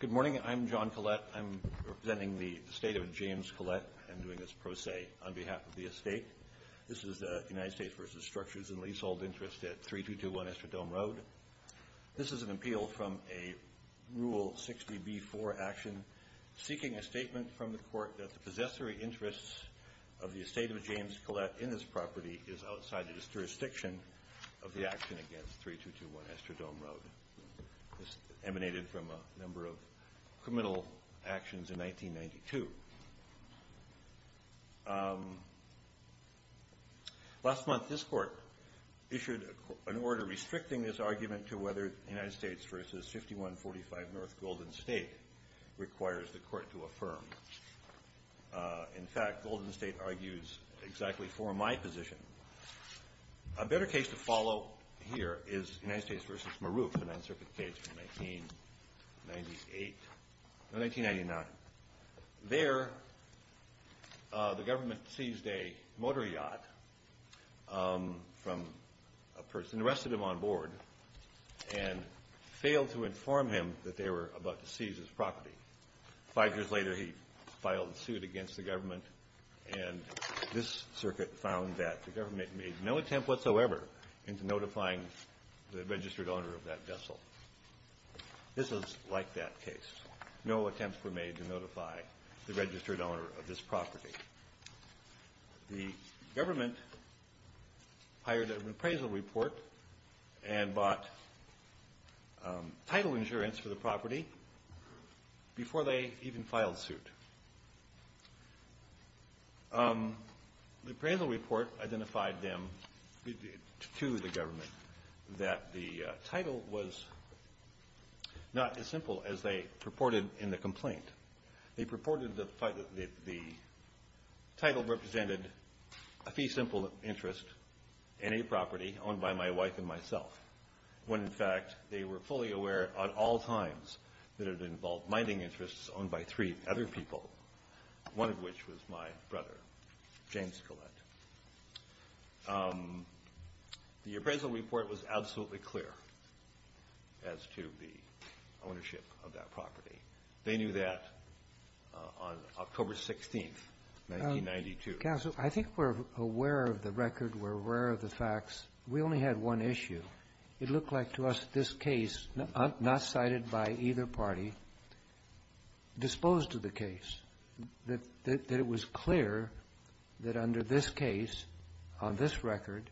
Good morning. I'm John Collette. I'm representing the estate of James Collette and doing this pro se on behalf of the estate. This is United States v. Structures and Leasehold Interest at 3221 Estradome Road. This is an appeal from a Rule 60b-4 action seeking a statement from the court that the possessory interests of the estate of James Collette in this property is outside the jurisdiction of the action against 3221 Estradome Road. This emanated from a number of criminal actions in 1992. Last month this court issued an order restricting this argument to whether United States v. 5145 North Golden State requires the court to affirm. In fact, Golden State argues exactly for my position. A better case to follow here is United States v. Maroof, a Ninth Circuit case from 1998, no, 1999. There the government seized a motor yacht from a person, arrested him on board, and failed to inform him that they were about to seize his property. Five years later he filed a suit against the government and this circuit found that the government made no attempt whatsoever into notifying the registered owner of that vessel. This is like that case. No attempts were made to notify the registered owner of this property. The government hired an appraisal report and bought title insurance for the property before they even filed suit. The appraisal report identified them to the government that the title was not as simple as they purported in the complaint. They purported that the title represented a fee simple interest in property owned by my wife and myself, when, in fact, they were fully aware at all times that it involved mining interests owned by three other people, one of which was my brother, James Collette. The appraisal report was absolutely clear as to the ownership of that property. They knew that on October 16th, 1992. I think we're aware of the record. We're aware of the facts. We only had one issue. It looked like to us this case, not cited by either party, disposed of the case. That it was clear that under this case, on this record,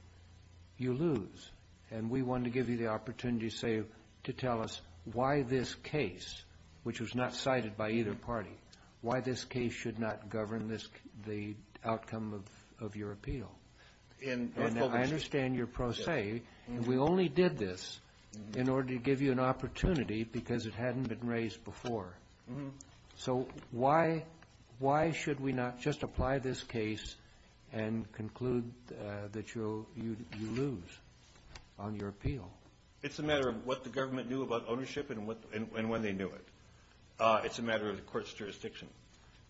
you lose. And we wanted to give you the opportunity, say, to tell us why this case, which was not cited by either party, why this case should not govern the outcome of your appeal. And I understand your pro se. We only did this in order to give you an opportunity because it hadn't been raised before. So why should we not just apply this case and conclude that you lose on your appeal? It's a matter of what the government knew about ownership and when they knew it. It's a matter of the court's jurisdiction.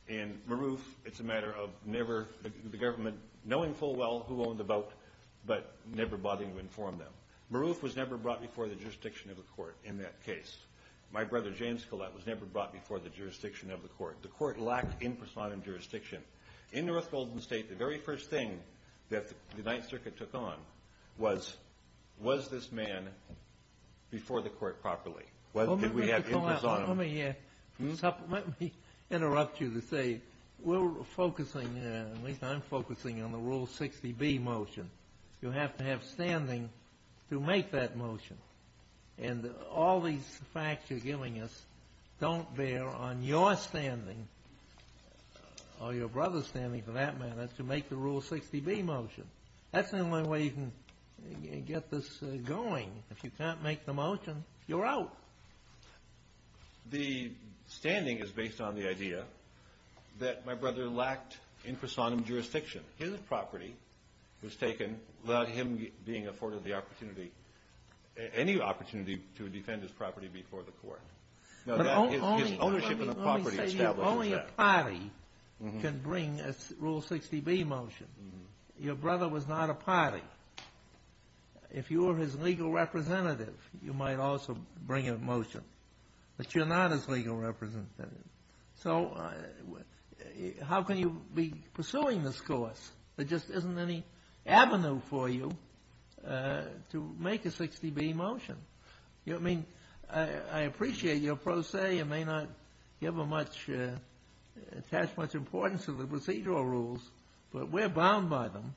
In Maroof, it's a matter of never the government knowing full well who owned the boat, but never bothering to inform them. Maroof was never brought before the jurisdiction of the court in that case. My brother, James Collette, was never brought before the jurisdiction of the court. The court lacked in personam jurisdiction. In North Golden State, the very first thing that the Ninth Circuit took on was, was this man before the court properly? Well, Mr. Collette, let me interrupt you to say, we're focusing, at least I'm focusing on the Rule 60B motion. You have to have standing to make that motion. And all these facts you're giving us don't bear on your standing or your brother's standing for that matter to make the Rule 60B motion. That's the only way you can get this going. If you can't make the motion, you're out. The standing is based on the idea that my brother lacked in personam jurisdiction. His property was taken without him being afforded the opportunity, any opportunity to defend his property before the court. But only, let me say, only a party can bring a Rule 60B motion. Your brother was not a representative. You might also bring a motion. But you're not his legal representative. So how can you be pursuing this course? There just isn't any avenue for you to make a 60B motion. You know, I mean, I appreciate your pro se. You may not give a much, attach much importance to the procedural rules, but we're bound by them.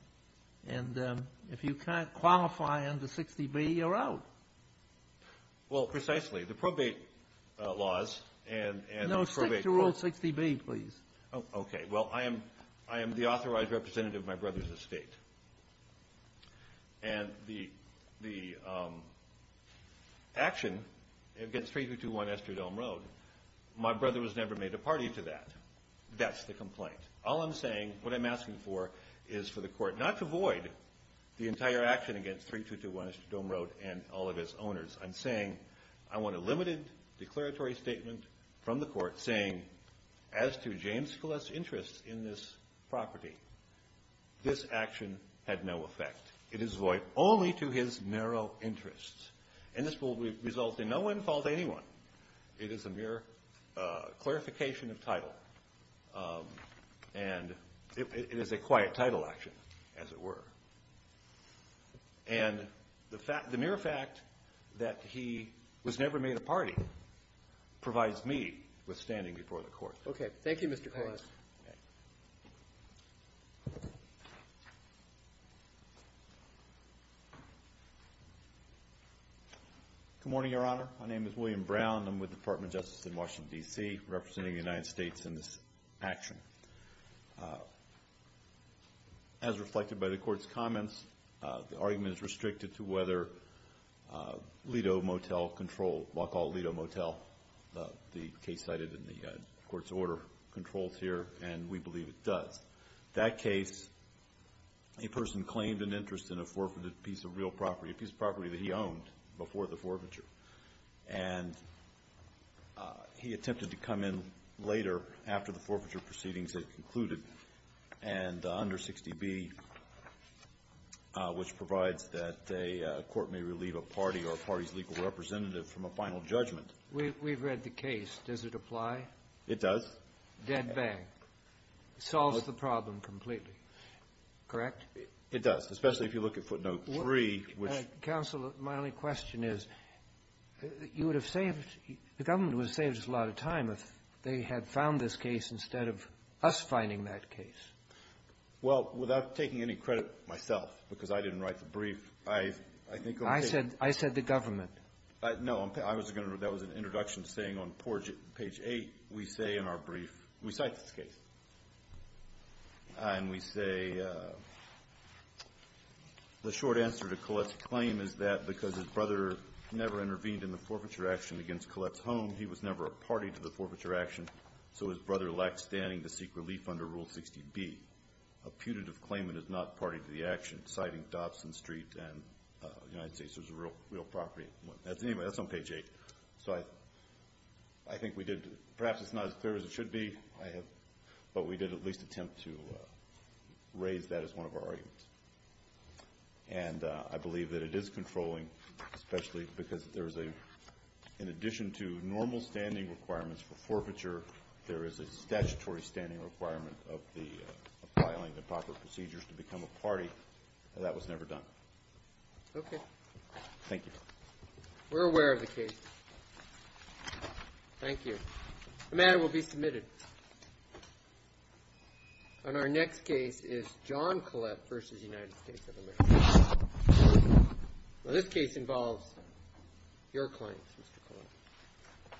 And if you can't qualify under 60B, you're out. Well, precisely. The probate laws and the probate courts No, stick to Rule 60B, please. Oh, okay. Well, I am the authorized representative of my brother's estate. And the action against 3221 Estradome Road, my brother was never made a party to that. That's the complaint. All I'm saying, what I'm asking for is for the court not to void the entire action against 3221 Estradome Road and all of its owners. I'm saying I want a limited declaratory statement from the court saying, as to James Scalise's interests in this property, this action had no effect. It is void only to his narrow interests. And this will result in no in-fault to anyone. It is a mere clarification of title. And it is a quiet title action, as it were. And the fact, the mere fact that he was never made a party provides me with standing before the court. Okay. Thank you, Mr. Collins. Good morning, Your Honor. My name is William Brown. I'm with the Department of Justice in Washington, D.C., representing the United States in this action. As reflected by the Court's comments, the argument is restricted to whether Lido Motel controlled, Wacol Lido Motel, the case cited in the Court's order, controls here, and we believe it does. That case, a person claimed an interest in a forfeited piece of real property, a piece of property that he owned, before the forfeiture. And he attempted to come in later, after the forfeiture proceedings had concluded, and under 60B, which provides that a court may relieve a party or a party's legal representative from a final judgment. We've read the case. Does it apply? It does. Dead bang. Solves the problem completely. Correct? It does, especially if you look at footnote 3, which ---- Counsel, my only question is, you would have saved, the government would have saved us a lot of time if they had found this case instead of us finding that case. Well, without taking any credit myself, because I didn't write the brief, I think ---- I said, I said the government. No. I was going to ---- that was an introduction saying on page 8, we say in our brief we cite this case. And we say, the short answer to Collette's claim is that because his brother never intervened in the forfeiture action against Collette's home, he was never a party to the forfeiture action, so his brother lacked standing to seek relief under Rule 60B. A putative claimant is not party to the action, citing Dobson Street and United States was a real property. Anyway, that's on page 8. So I think we did ---- perhaps it's not as clear as it should be, but we did at least attempt to raise that as one of our arguments. And I believe that it is controlling, especially because there's a ---- in addition to normal standing requirements for forfeiture, there is a statutory standing requirement of the ---- of filing the proper procedures to become a party, and that was never done. Okay. Thank you. We're aware of the case. Thank you. The matter will be submitted. And our next case is John Collette v. United States of America. Now, this case involves your claims, Mr.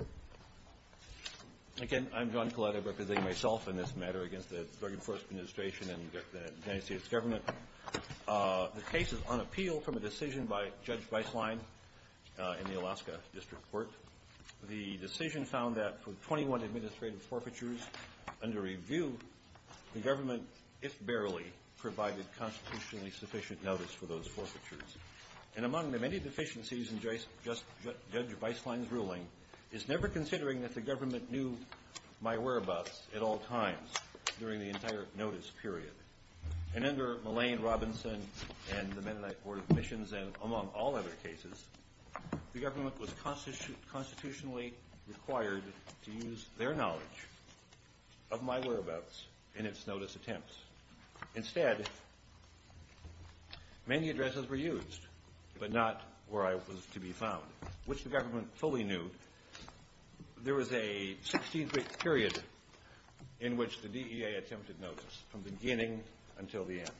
Collette. Again, I'm John Collette. I represent myself in this matter against the Spergen Force Administration and the United States government. The case is on appeal from a decision by Judge Weisslein in the Alaska District Court. The decision found that for 21 administrative forfeitures under review, the government, if barely, provided constitutionally sufficient notice for those forfeitures. And among the many deficiencies in Judge Weisslein's ruling is never considering that the government knew my whereabouts at all times during the entire notice period. And under Mullane, Robinson, and the Mennonite Board of Admissions, and among all other cases, the government was constitutionally required to use their knowledge of my whereabouts in its notice attempts. Instead, many addresses were used, but not where I was to be found, which the government fully knew. There was a 16-week period in which the DEA attempted to revoke my notice from beginning until the end.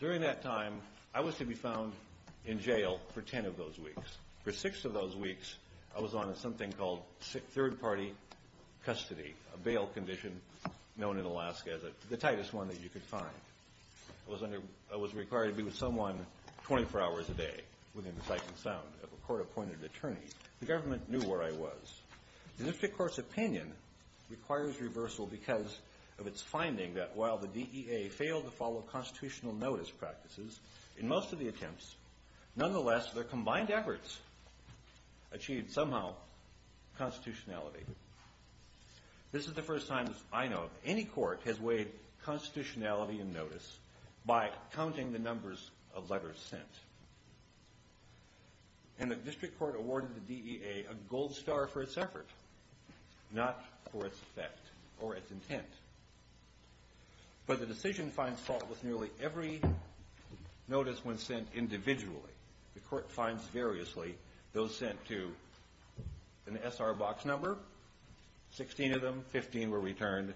During that time, I was to be found in jail for 10 of those weeks. For 6 of those weeks, I was on something called third-party custody, a bail condition known in Alaska as the tightest one that you could find. I was required to be with someone 24 hours a day within sight and sound of a court-appointed attorney. The government knew where I was. The district court's opinion requires reversal because of its finding that while the DEA failed to follow constitutional notice practices in most of the attempts, nonetheless, their combined efforts achieved somehow constitutionality. This is the first time, as I know of, any court has weighed constitutionality in notice by counting the numbers of letters sent. And the district court awarded the DEA a gold star for its effort, not for its effect or its intent. But the decision finds fault with nearly every notice when sent individually. The court finds variously those sent to an SR box number, 16 of them, 15 were returned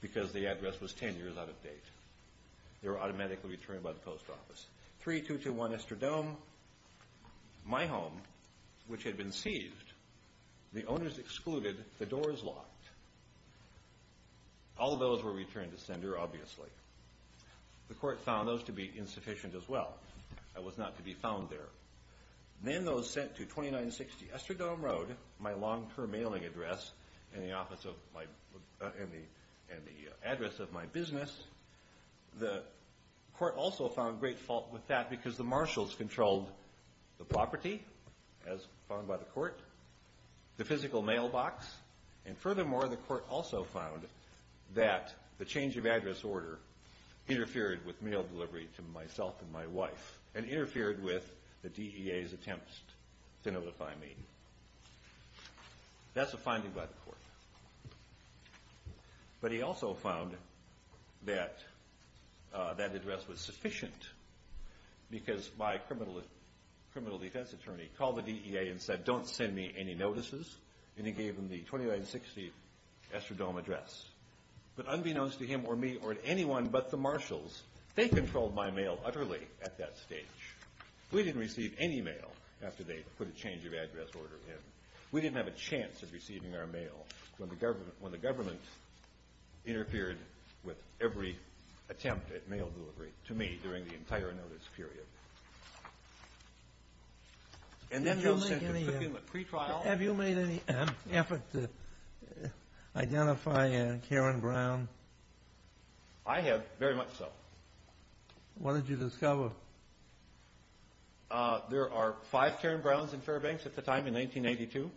because the address was 10 years out of date. They were automatically returned by the post office. 3-221 Estradome, my home, which had been seized, the owners excluded, the doors locked. All those were returned to sender, obviously. The court found those to be insufficient as well. I was not to be found there. Then those sent to 2960 Estradome Road, my long-term mailing address and the address of my business, the court also found great fault with that because the marshals controlled the property, as found by the court, the physical mailbox, and furthermore, the court also found that the change of address order interfered with mail delivery to myself and my wife and interfered with the DEA's attempts to notify me. That's a finding by the court. But he also found that that address was sufficient because my criminal defense attorney called the DEA and said, don't send me any notices, and he gave them the 2960 Estradome address. But unbeknownst to him or me or anyone but the marshals, they controlled my mail utterly at that stage. We didn't receive any mail after they put a change of address order in. We didn't have a chance of receiving our mail when the government interfered with every attempt at mail delivery to me during the entire notice period. And then those sent to Fickin, the pretrial. Have you made any effort to identify Karen Brown? I have, very much so. What did you discover? There are five Karen Browns in Fairbanks at the time, in 1982.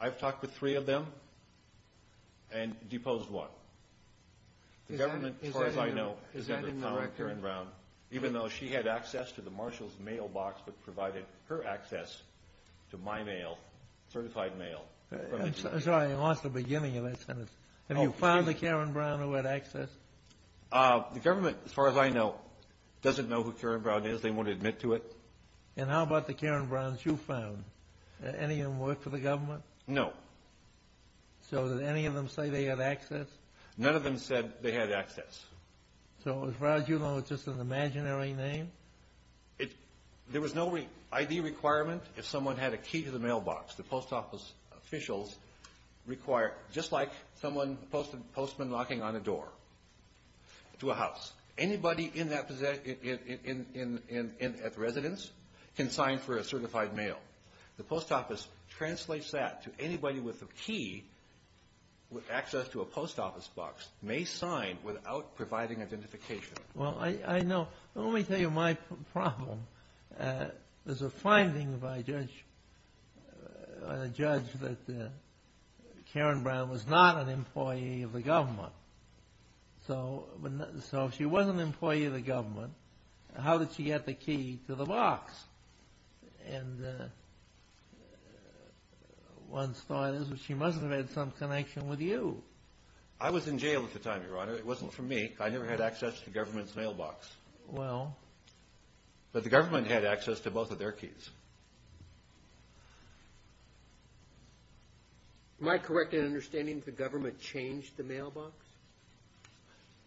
I've talked with three of them and deposed one. The government, as far as I know, has never found Karen Brown, even though she had access to the marshals' mailbox that provided her access to my mail, certified mail. I'm sorry, I lost the beginning of that sentence. Have you found the Karen Brown who had access? The government, as far as I know, doesn't know who Karen Brown is. They won't admit to it. And how about the Karen Browns you found? Any of them work for the government? No. So did any of them say they had access? None of them said they had access. So as far as you know, it's just an imaginary name? There was no ID requirement if someone had a key to the mailbox. The post office officials require, just like someone posted knocking on a door to a house, anybody in that residence can sign for a certified mail. The post office translates that to anybody with a key with access to a post office box may sign without providing identification. Well, I know. Let me tell you my problem. There's a finding by a judge that Karen Brown was not an employee of the government. So if she was an employee of the government, how did she get the key to the box? And one thought is that she must have had some connection with you. I was in jail at the time, Your Honor. It wasn't for me. I never had access to the government's mailbox. Well. But the government had access to both of their keys. Am I correct in understanding the government changed the mailbox?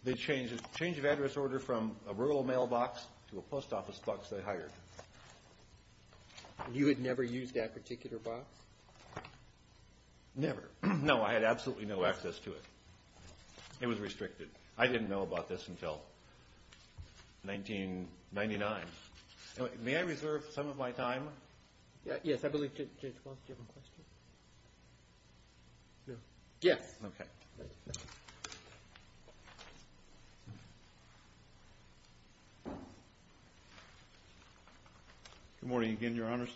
They changed the change of address order from a rural mailbox to a post office box they hired. You had never used that particular box? Never. No, I had absolutely no access to it. It was restricted. I didn't know about this until 1999. May I reserve some of my time? Yes, I believe Judge Walsh, do you have a question? Yes. Good morning again, Your Honors.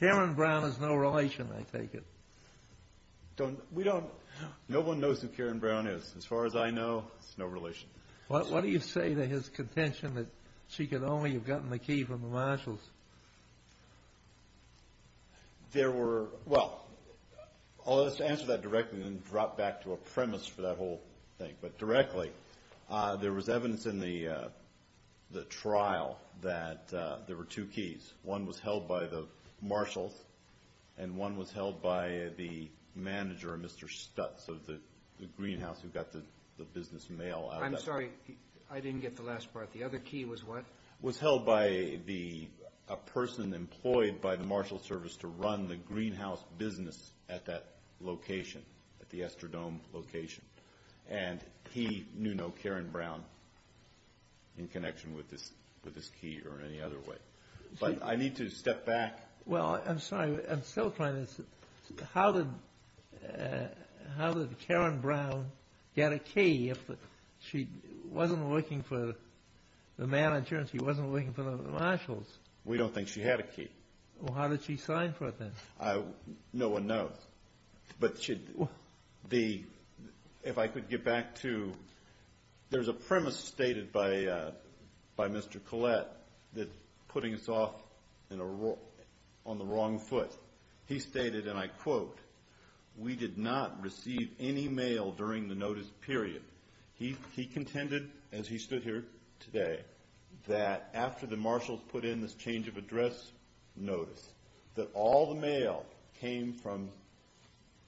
Karen Brown has no relation, I take it. No one knows who Karen Brown is. As far as I know, it's no relation. What do you say to his contention that she could only have gotten the key from the marshals? There were, well, I'll just answer that directly and then drop back to a premise for that whole thing. But directly, there was evidence in the trial that there were two keys. One was held by the marshals and one was held by the manager, Mr. Stutz, of the greenhouse who got the business mail. I'm sorry, I didn't get the last part. The other key was what? Was held by a person employed by the Marshals Service to run the in connection with this key or any other way. But I need to step back. Well, I'm sorry, I'm still trying to see. How did Karen Brown get a key if she wasn't looking for the manager and she wasn't looking for the marshals? We don't think she had a key. Well, how did she sign for it then? No one knows. But if I could get back to, there's a premise stated by Mr. Collette that's putting us off on the wrong foot. He stated, and I quote, we did not receive any mail during the notice period. He contended, as he stood here today, that after the marshals put in this change of address notice, that all the mail came from,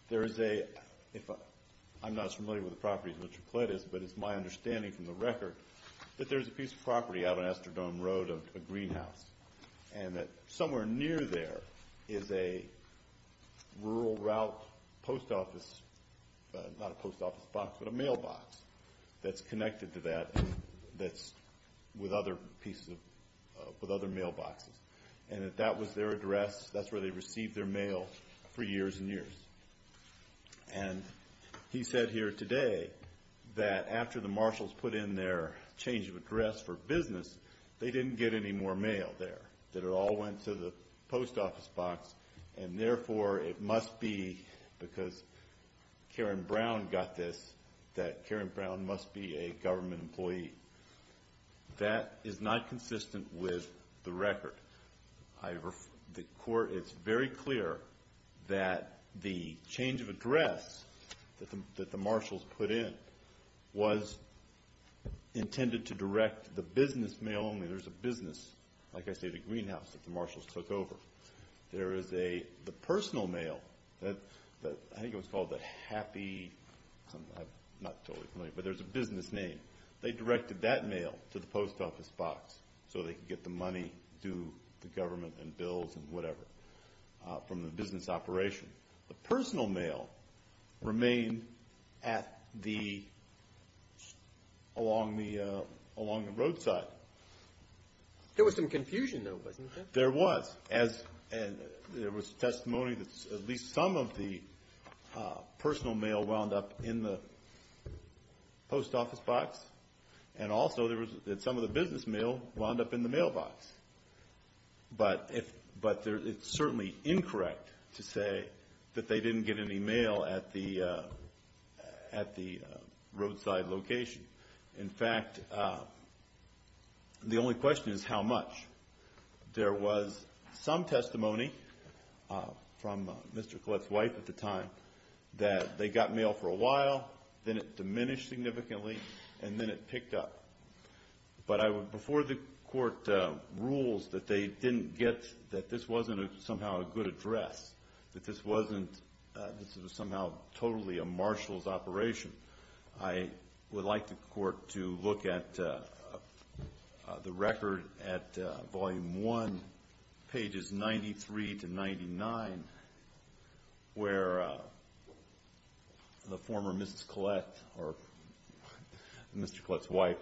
there is a, I'm not as familiar with the property as Mr. Collette is, but it's my understanding from the record that there's a piece of property out on Astrodome Road, a greenhouse. And that somewhere near there is a rural route post office, not a post office box, but a mailbox that's connected to that, that's with other pieces of, with other properties. And he said here today that after the marshals put in their change of address for business, they didn't get any more mail there. That it all went to the post office box and therefore it must be because Karen Brown got this, that Karen Brown must be a government employee. That is not consistent with the record. The court, it's very clear that the change of address that the marshals put in was intended to direct the business mail only. There's a business, like I say, the greenhouse that the marshals took over. There is a, the personal mail, I think it was called the happy, I'm not totally familiar, but there's a business name. They directed that mail to the post office box so they could get the money to the government and bills and whatever from the business operation. The personal mail remained at the, along the roadside. There was some confusion though, wasn't there? There was. As, there was testimony that at least some of the personal mail wound up in the post office box. And also there was that some of the business mail wound up in the mailbox. But it's certainly incorrect to say that they didn't get any mail at the roadside location. In fact, the only question is how much? There was some testimony from Mr. Collette's wife at the time that they got mail for a while, then it diminished significantly, and then it picked up. But I would, before the court rules that they didn't get, that this wasn't somehow a good address, that this wasn't, this was somehow totally a marshal's operation, I would like the court to look at the The former Mrs. Collette, or Mr. Collette's wife,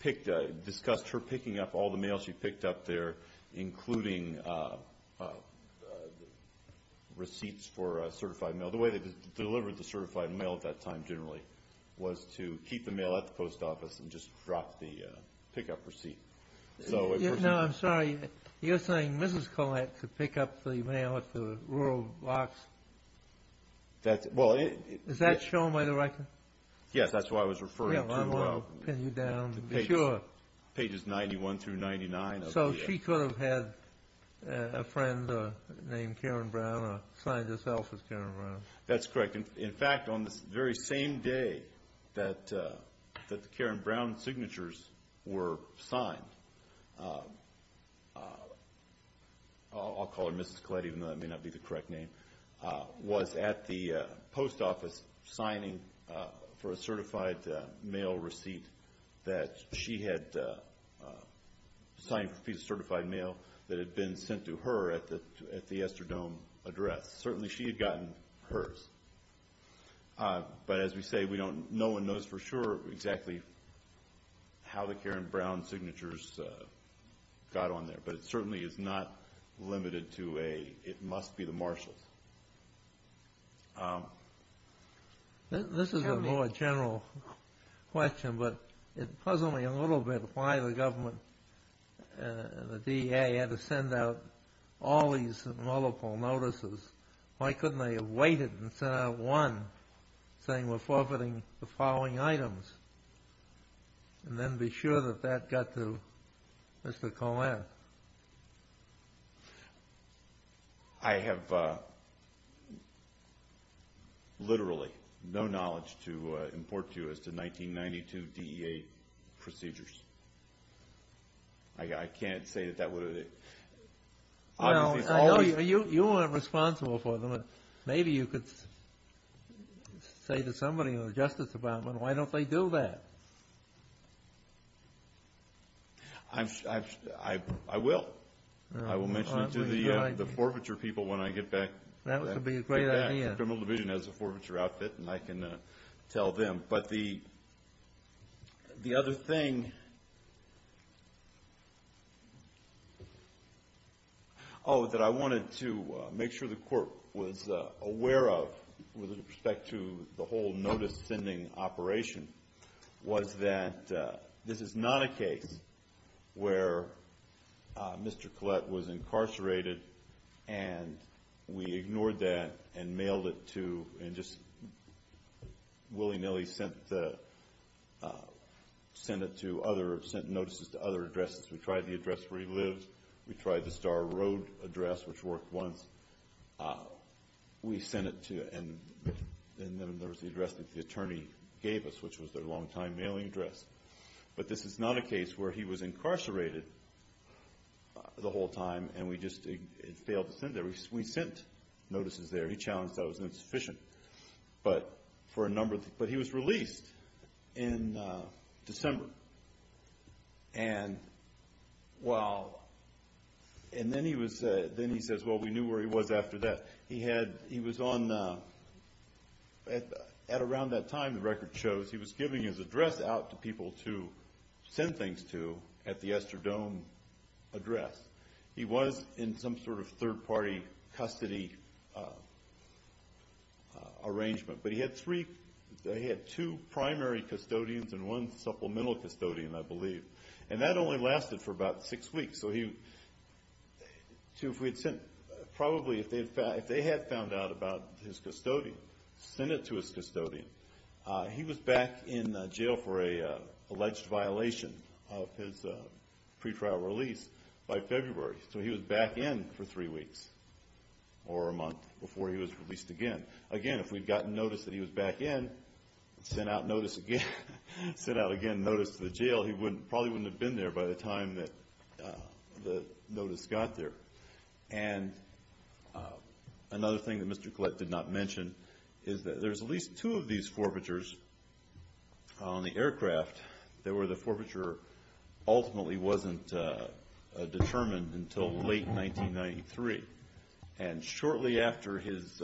picked, discussed her picking up all the mail she picked up there, including receipts for certified mail. The way they delivered the certified mail at that time, generally, was to keep the mail at the post office and just drop the pickup receipt. No, I'm sorry. You're saying Mrs. Collette could pick up the mail at the rural box? Is that shown by the record? Yes, that's what I was referring to. I'm going to pin you down to be sure. Pages 91 through 99. So she could have had a friend named Karen Brown or signed herself as Karen Brown? That's correct. In fact, on the very same day that the Karen Brown signatures were signed, I'll call her Mrs. Collette even though that may not be the case, was at the post office signing for a certified mail receipt that she had, signing for a piece of certified mail that had been sent to her at the Estradome address. Certainly she had gotten hers. But as we say, no one knows for sure exactly how the Karen Brown signatures got on there, but it certainly is not limited to a, it must be the marshals. This is a more general question, but it puzzled me a little bit why the government and the DA had to send out all these multiple notices. Why couldn't they have waited and sent out one saying we're forfeiting the following items and then be sure that that got to Mrs. Collette? I have literally no knowledge to import to you as to 1992 DEA procedures. I can't say that that would have been. You weren't responsible for them. Maybe you could say to somebody in the Justice Department, why don't they do that? I will. I will mention it to the forfeiture people when I get back to the criminal division as a forfeiture outfit and I can tell them. But the other thing that I wanted to make sure the court was aware of with respect to the whole notice sending operation was that this is not a case where he was incarcerated the whole time and we just failed to send it. We sent notices there. He challenged that it was insufficient. But he was released in December. And then he says, well, we knew where he was after that. He was on, at around that time, the record shows, he was giving his address out to people to send things to at the Estradome address. He was in some sort of third party custody arrangement. But he had three, he had two primary custodians and one supplemental custodian, I believe. And that only lasted for about six weeks. So if they had found out about his custodian, sent it to his custodian, he was back in jail for an alleged violation of his pretrial release by February. So he was back in for three weeks or a month before he was released again. Again, if we had gotten notice that he was back in, sent out notice to the jail, he probably wouldn't have been there by the time the notice got there. And another thing that Mr. Collette did not mention is that there's at least two of these forfeitures on the aircraft that were the forfeiture ultimately wasn't determined until late 1993. And shortly after his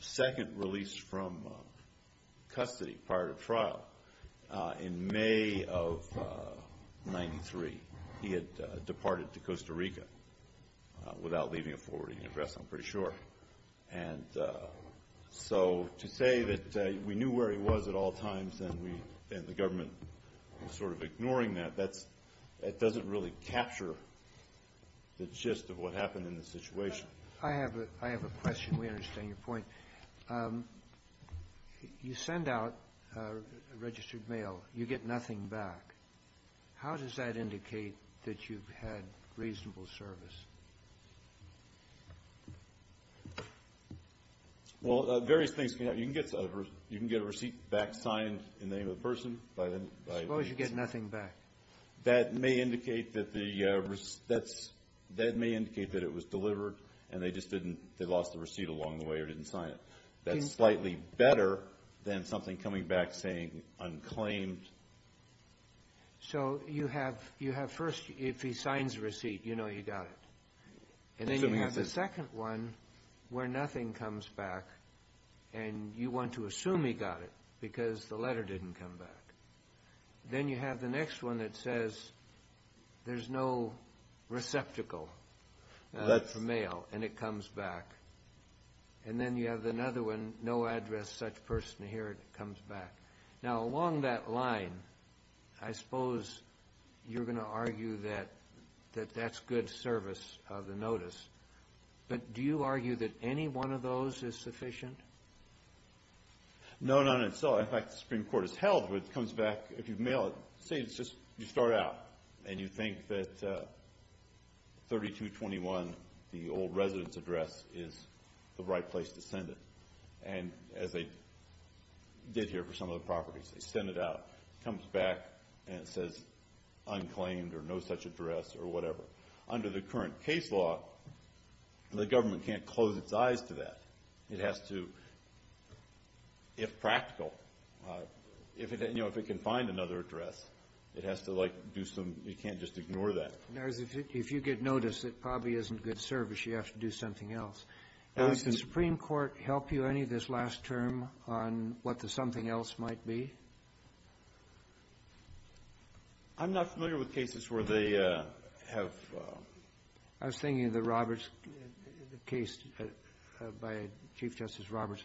second release from custody prior to trial, in May of 1993, he had departed to Costa Rica without leaving a forwarding address, I'm pretty sure. And so to say that we knew where he was at all times and the government was sort of ignoring that, that doesn't really capture the gist of what happened in the situation. I have a question. We understand your point. You send out a registered mail. You get nothing back. How does that indicate that you've had reasonable service? Well, various things can happen. You can get a receipt back signed in the name of the person. Suppose you get nothing back. That may indicate that it was delivered and they lost the receipt along the way or didn't sign it. That's slightly better than something coming back saying unclaimed. So you have first, if he signs the receipt, you know he got it. And then you have the second one where nothing comes back and you want to assume he got it because the letter didn't come back. Then you have the next one that says there's no receptacle for mail and it comes back. And then you have another one, no address, such person here, it comes back. Now along that line, I suppose you're going to argue that that's good service of the notice. But do you argue that any one of those is sufficient? No, not in itself. In fact, the Supreme Court has held that it comes back if you mail it. Say you start out and you think that 3221, the old residence address, is the right place to send it. And as they did here for some of the properties, they send it out. It comes back and it says unclaimed or no such address or whatever. Under the current case law, the government can't close its eyes to that. It has to, if practical, if it can find another address, it has to like do some, you can't just ignore that. If you get notice, it probably isn't good service. You have to do something else. Does the Supreme Court help you any this last term on what the something else might be? I'm not familiar with cases where they have. I was thinking of the Roberts case by Chief Justice Roberts,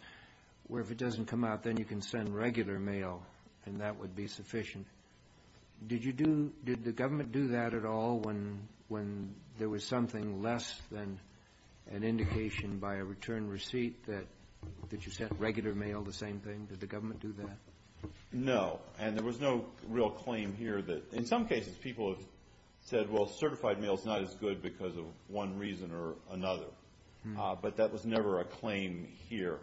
where if it doesn't come out, then you can send regular mail and that would be sufficient. Did you do, did the government do that at all when there was something less than an indication by a return receipt that you sent regular mail the same thing? Did the government do that? No. And there was no real claim here that, in some cases, people have said, well, certified mail is not as good because of one reason or another. But that was never a claim here.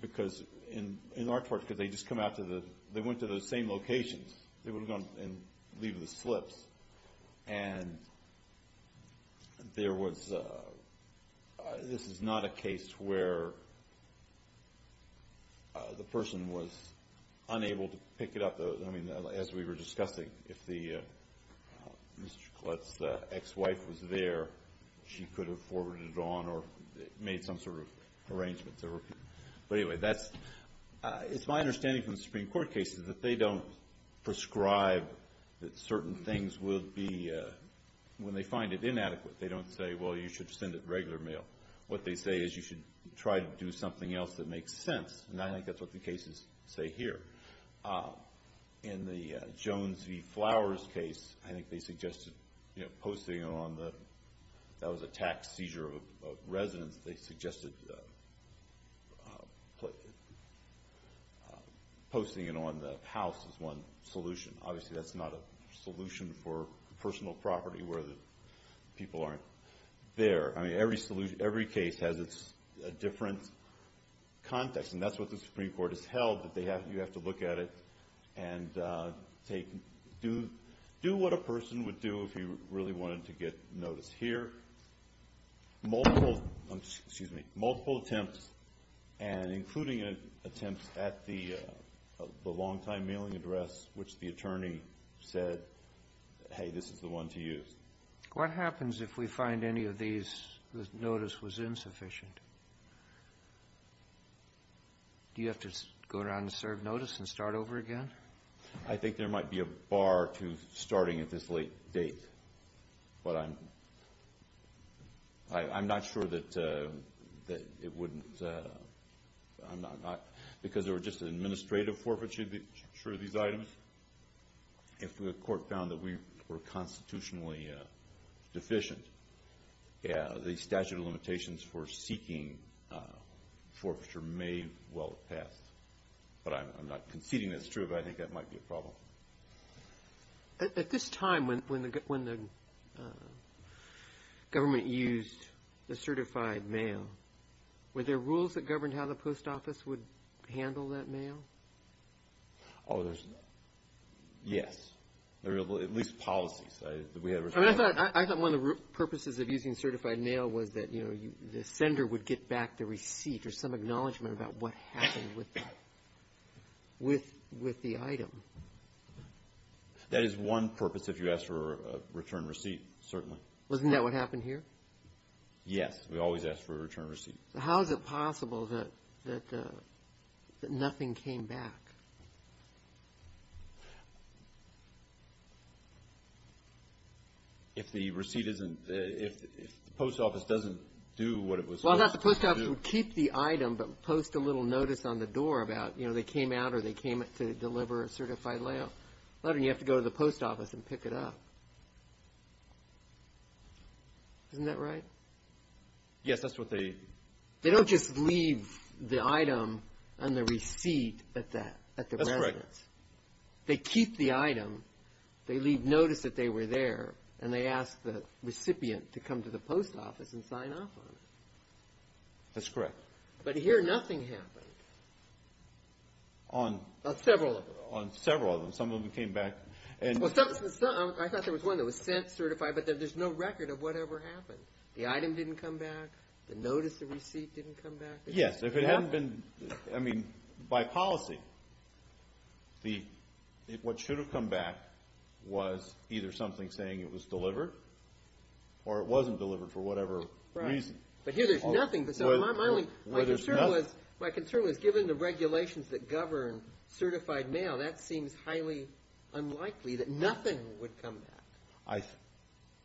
Because in Arch Forge, because they just come out to the, they went to the same locations. They would have gone and leave the slips. And there was, this is not a case where the person was unable to pick it up. I mean, as we were discussing, if the, Mr. Collette's ex-wife was there, she could have forwarded it on or made some sort of arrangement. But anyway, that's, it's my understanding from the Supreme Court cases that they don't prescribe that certain things would be, when they find it inadequate, they don't say, well, you should send it regular mail. What they say is you should try to do something else that makes sense. And I think that's what the cases say here. In the Jones v. Flowers case, I think they suggested, you know, posting it on the, that was a tax seizure of residence. They suggested posting it on the house as one solution. Obviously, that's not a solution for personal property where the people aren't there. I mean, every case has its different context. And that's what the Supreme Court has held, that you have to look at it and take, do what a person would do if you really wanted to get notice here. Multiple, excuse me, multiple attempts, and including attempts at the longtime mailing address, which the attorney said, hey, this is the one to use. What happens if we find any of these, the notice was insufficient? Do you have to go around and serve notice and start over again? I think there might be a bar to starting at this late date. But I'm not sure that it wouldn't, because there were just administrative forfeiture of these items. If the court found that we were constitutionally deficient, the statute of limitations for seeking forfeiture may well have passed. But I'm not conceding that's true, but I think that might be a problem. At this time when the government used the certified mail, were there rules that governed how the post office would handle that mail? Oh, there's, yes. There were at least policies. I thought one of the purposes of using certified mail was that the sender would get back the receipt or some acknowledgement about what happened with the item. That is one purpose if you ask for a return receipt, certainly. Wasn't that what happened here? Yes, we always ask for a return receipt. How is it possible that nothing came back? If the receipt isn't, if the post office doesn't do what it was supposed to do. Well, not the post office would keep the item, but post a little notice on the door about, you know, they came out or they came to deliver a certified mail. You have to go to the post office and pick it up. Isn't that right? Yes, that's what they. They don't just leave the item on the receipt at the residence. That's correct. They keep the item. They leave notice that they were there. And they ask the recipient to come to the post office and sign off on it. That's correct. But here nothing happened. On. On several of them. On several of them. Some of them came back. I thought there was one that was sent certified, but there's no record of whatever happened. The item didn't come back. The notice of receipt didn't come back. Yes, if it hadn't been, I mean, by policy. What should have come back was either something saying it was delivered or it wasn't delivered for whatever reason. But here there's nothing. My concern was given the regulations that govern certified mail, that seems highly unlikely that nothing would come back.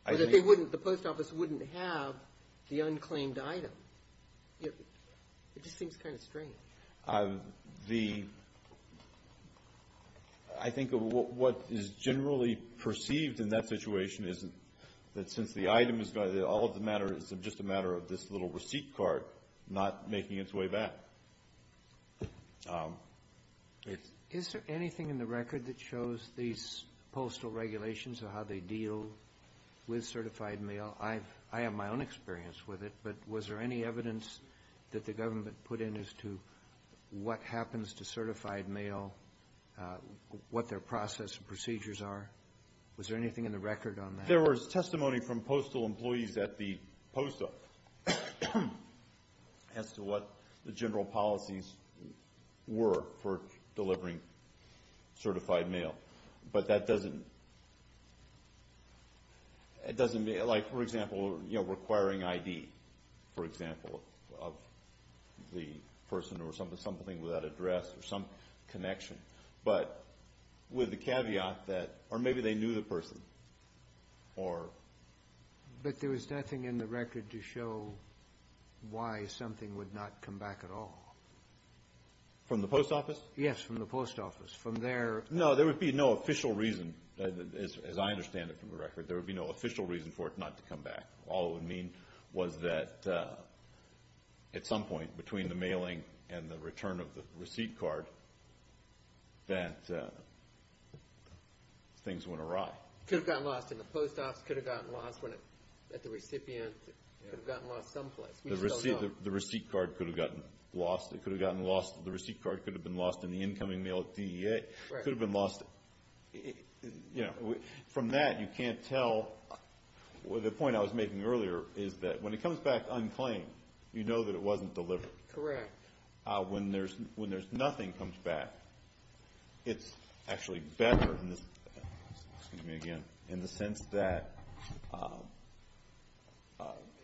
The post office wouldn't have the unclaimed item. It just seems kind of strange. The, I think what is generally perceived in that situation is that since the item is, all of the matter is just a matter of this little receipt card not making its way back. Is there anything in the record that shows these postal regulations or how they deal with certified mail? I have my own experience with it. But was there any evidence that the government put in as to what happens to certified mail, what their process and procedures are? Was there anything in the record on that? There was testimony from postal employees at the post office as to what the general policies were for delivering certified mail. But that doesn't, it doesn't, like for example, requiring ID, for example, of the person or something without address or some connection. But with the caveat that, or maybe they knew the person or. But there was nothing in the record to show why something would not come back at all? From the post office? Yes, from the post office. From their. No, there would be no official reason, as I understand it from the record, there would be no official reason for it not to come back. All it would mean was that at some point between the mailing and the return of the receipt card, that things went awry. Could have gotten lost in the post office, could have gotten lost at the recipient, could have gotten lost someplace. The receipt card could have gotten lost. It could have gotten lost, the receipt card could have been lost in the incoming mail at DEA. Could have been lost. You know, from that you can't tell. The point I was making earlier is that when it comes back unclaimed, you know that it wasn't delivered. Correct. When there's nothing comes back, it's actually better in this, excuse me again, in the sense that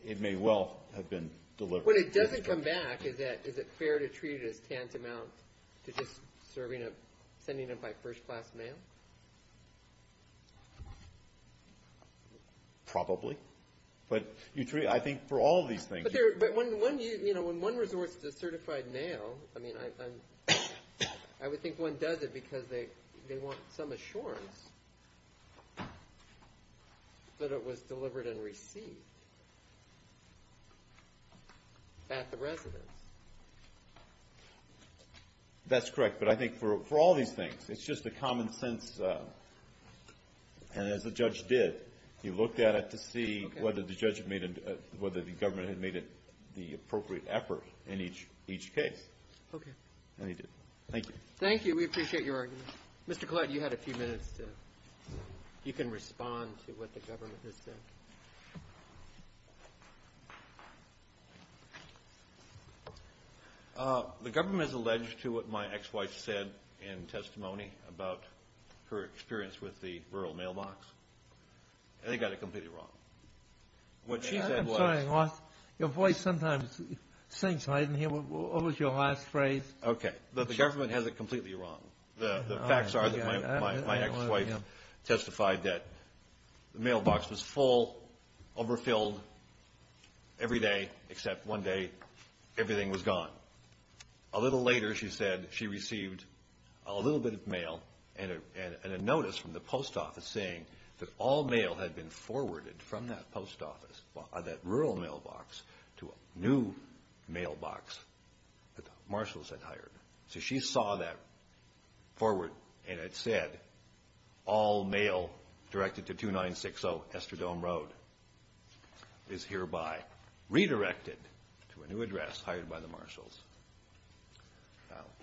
it may well have been delivered. When it doesn't come back, is it fair to treat it as tantamount to just sending it by first class mail? Probably. But I think for all of these things. But when one resorts to certified mail, I mean, I would think one does it because they want some assurance that it was delivered and received at the residence. That's correct. But I think for all these things, it's just a common sense. And as the judge did, he looked at it to see whether the government had made it the appropriate effort in each case. Okay. And he did. Thank you. Thank you. We appreciate your argument. Mr. Clyde, you had a few minutes to, you can respond to what the government has said. The government has alleged to what my ex-wife said in testimony about her experience with the rural mailbox. And they got it completely wrong. What she said was. I'm sorry. Your voice sometimes sinks. I didn't hear, what was your last phrase? Okay. But the government has it completely wrong. The facts are that my ex-wife testified that the mailbox was full, overfilled every day, except one day everything was gone. A little later, she said, she received a little bit of mail and a notice from the post office saying that all mail had been forwarded from that post office, that rural mailbox, to a new mailbox that the marshals had hired. So she saw that forward and had said, all mail directed to 2960 Estradome Road is hereby redirected to a new address hired by the marshals.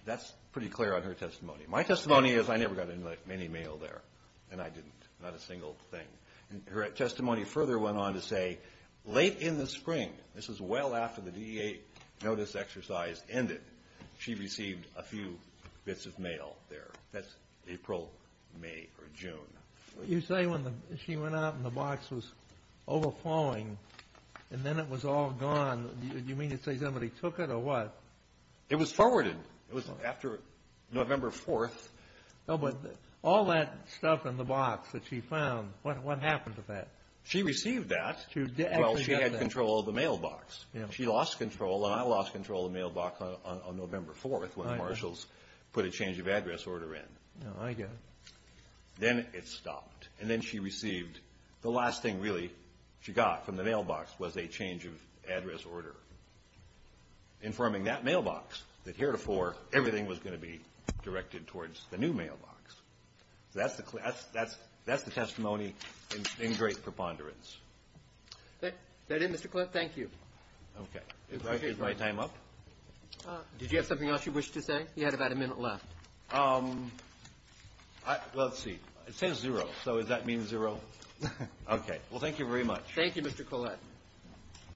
That's pretty clear on her testimony. My testimony is I never got any mail there. And I didn't. Not a single thing. Her testimony further went on to say, late in the spring, this was well after the DEA notice exercise ended, she received a few bits of mail there. That's April, May, or June. You say when she went out and the box was overflowing and then it was all gone, you mean to say somebody took it or what? It was forwarded. It was after November 4th. Oh, but all that stuff in the box that she found, what happened to that? She received that while she had control of the mailbox. She lost control and I lost control of the mailbox on November 4th when the marshals put a change of address order in. I get it. Then it stopped. And then she received, the last thing really she got from the mailbox was a change of address order, informing that mailbox that heretofore everything was going to be directed towards the new mailbox. That's the testimony in great preponderance. Is that it, Mr. Collette? Thank you. Okay. Is my time up? Did you have something else you wished to say? You had about a minute left. Let's see. It says zero. So does that mean zero? Okay. Well, thank you very much. Thank you, Mr. Collette.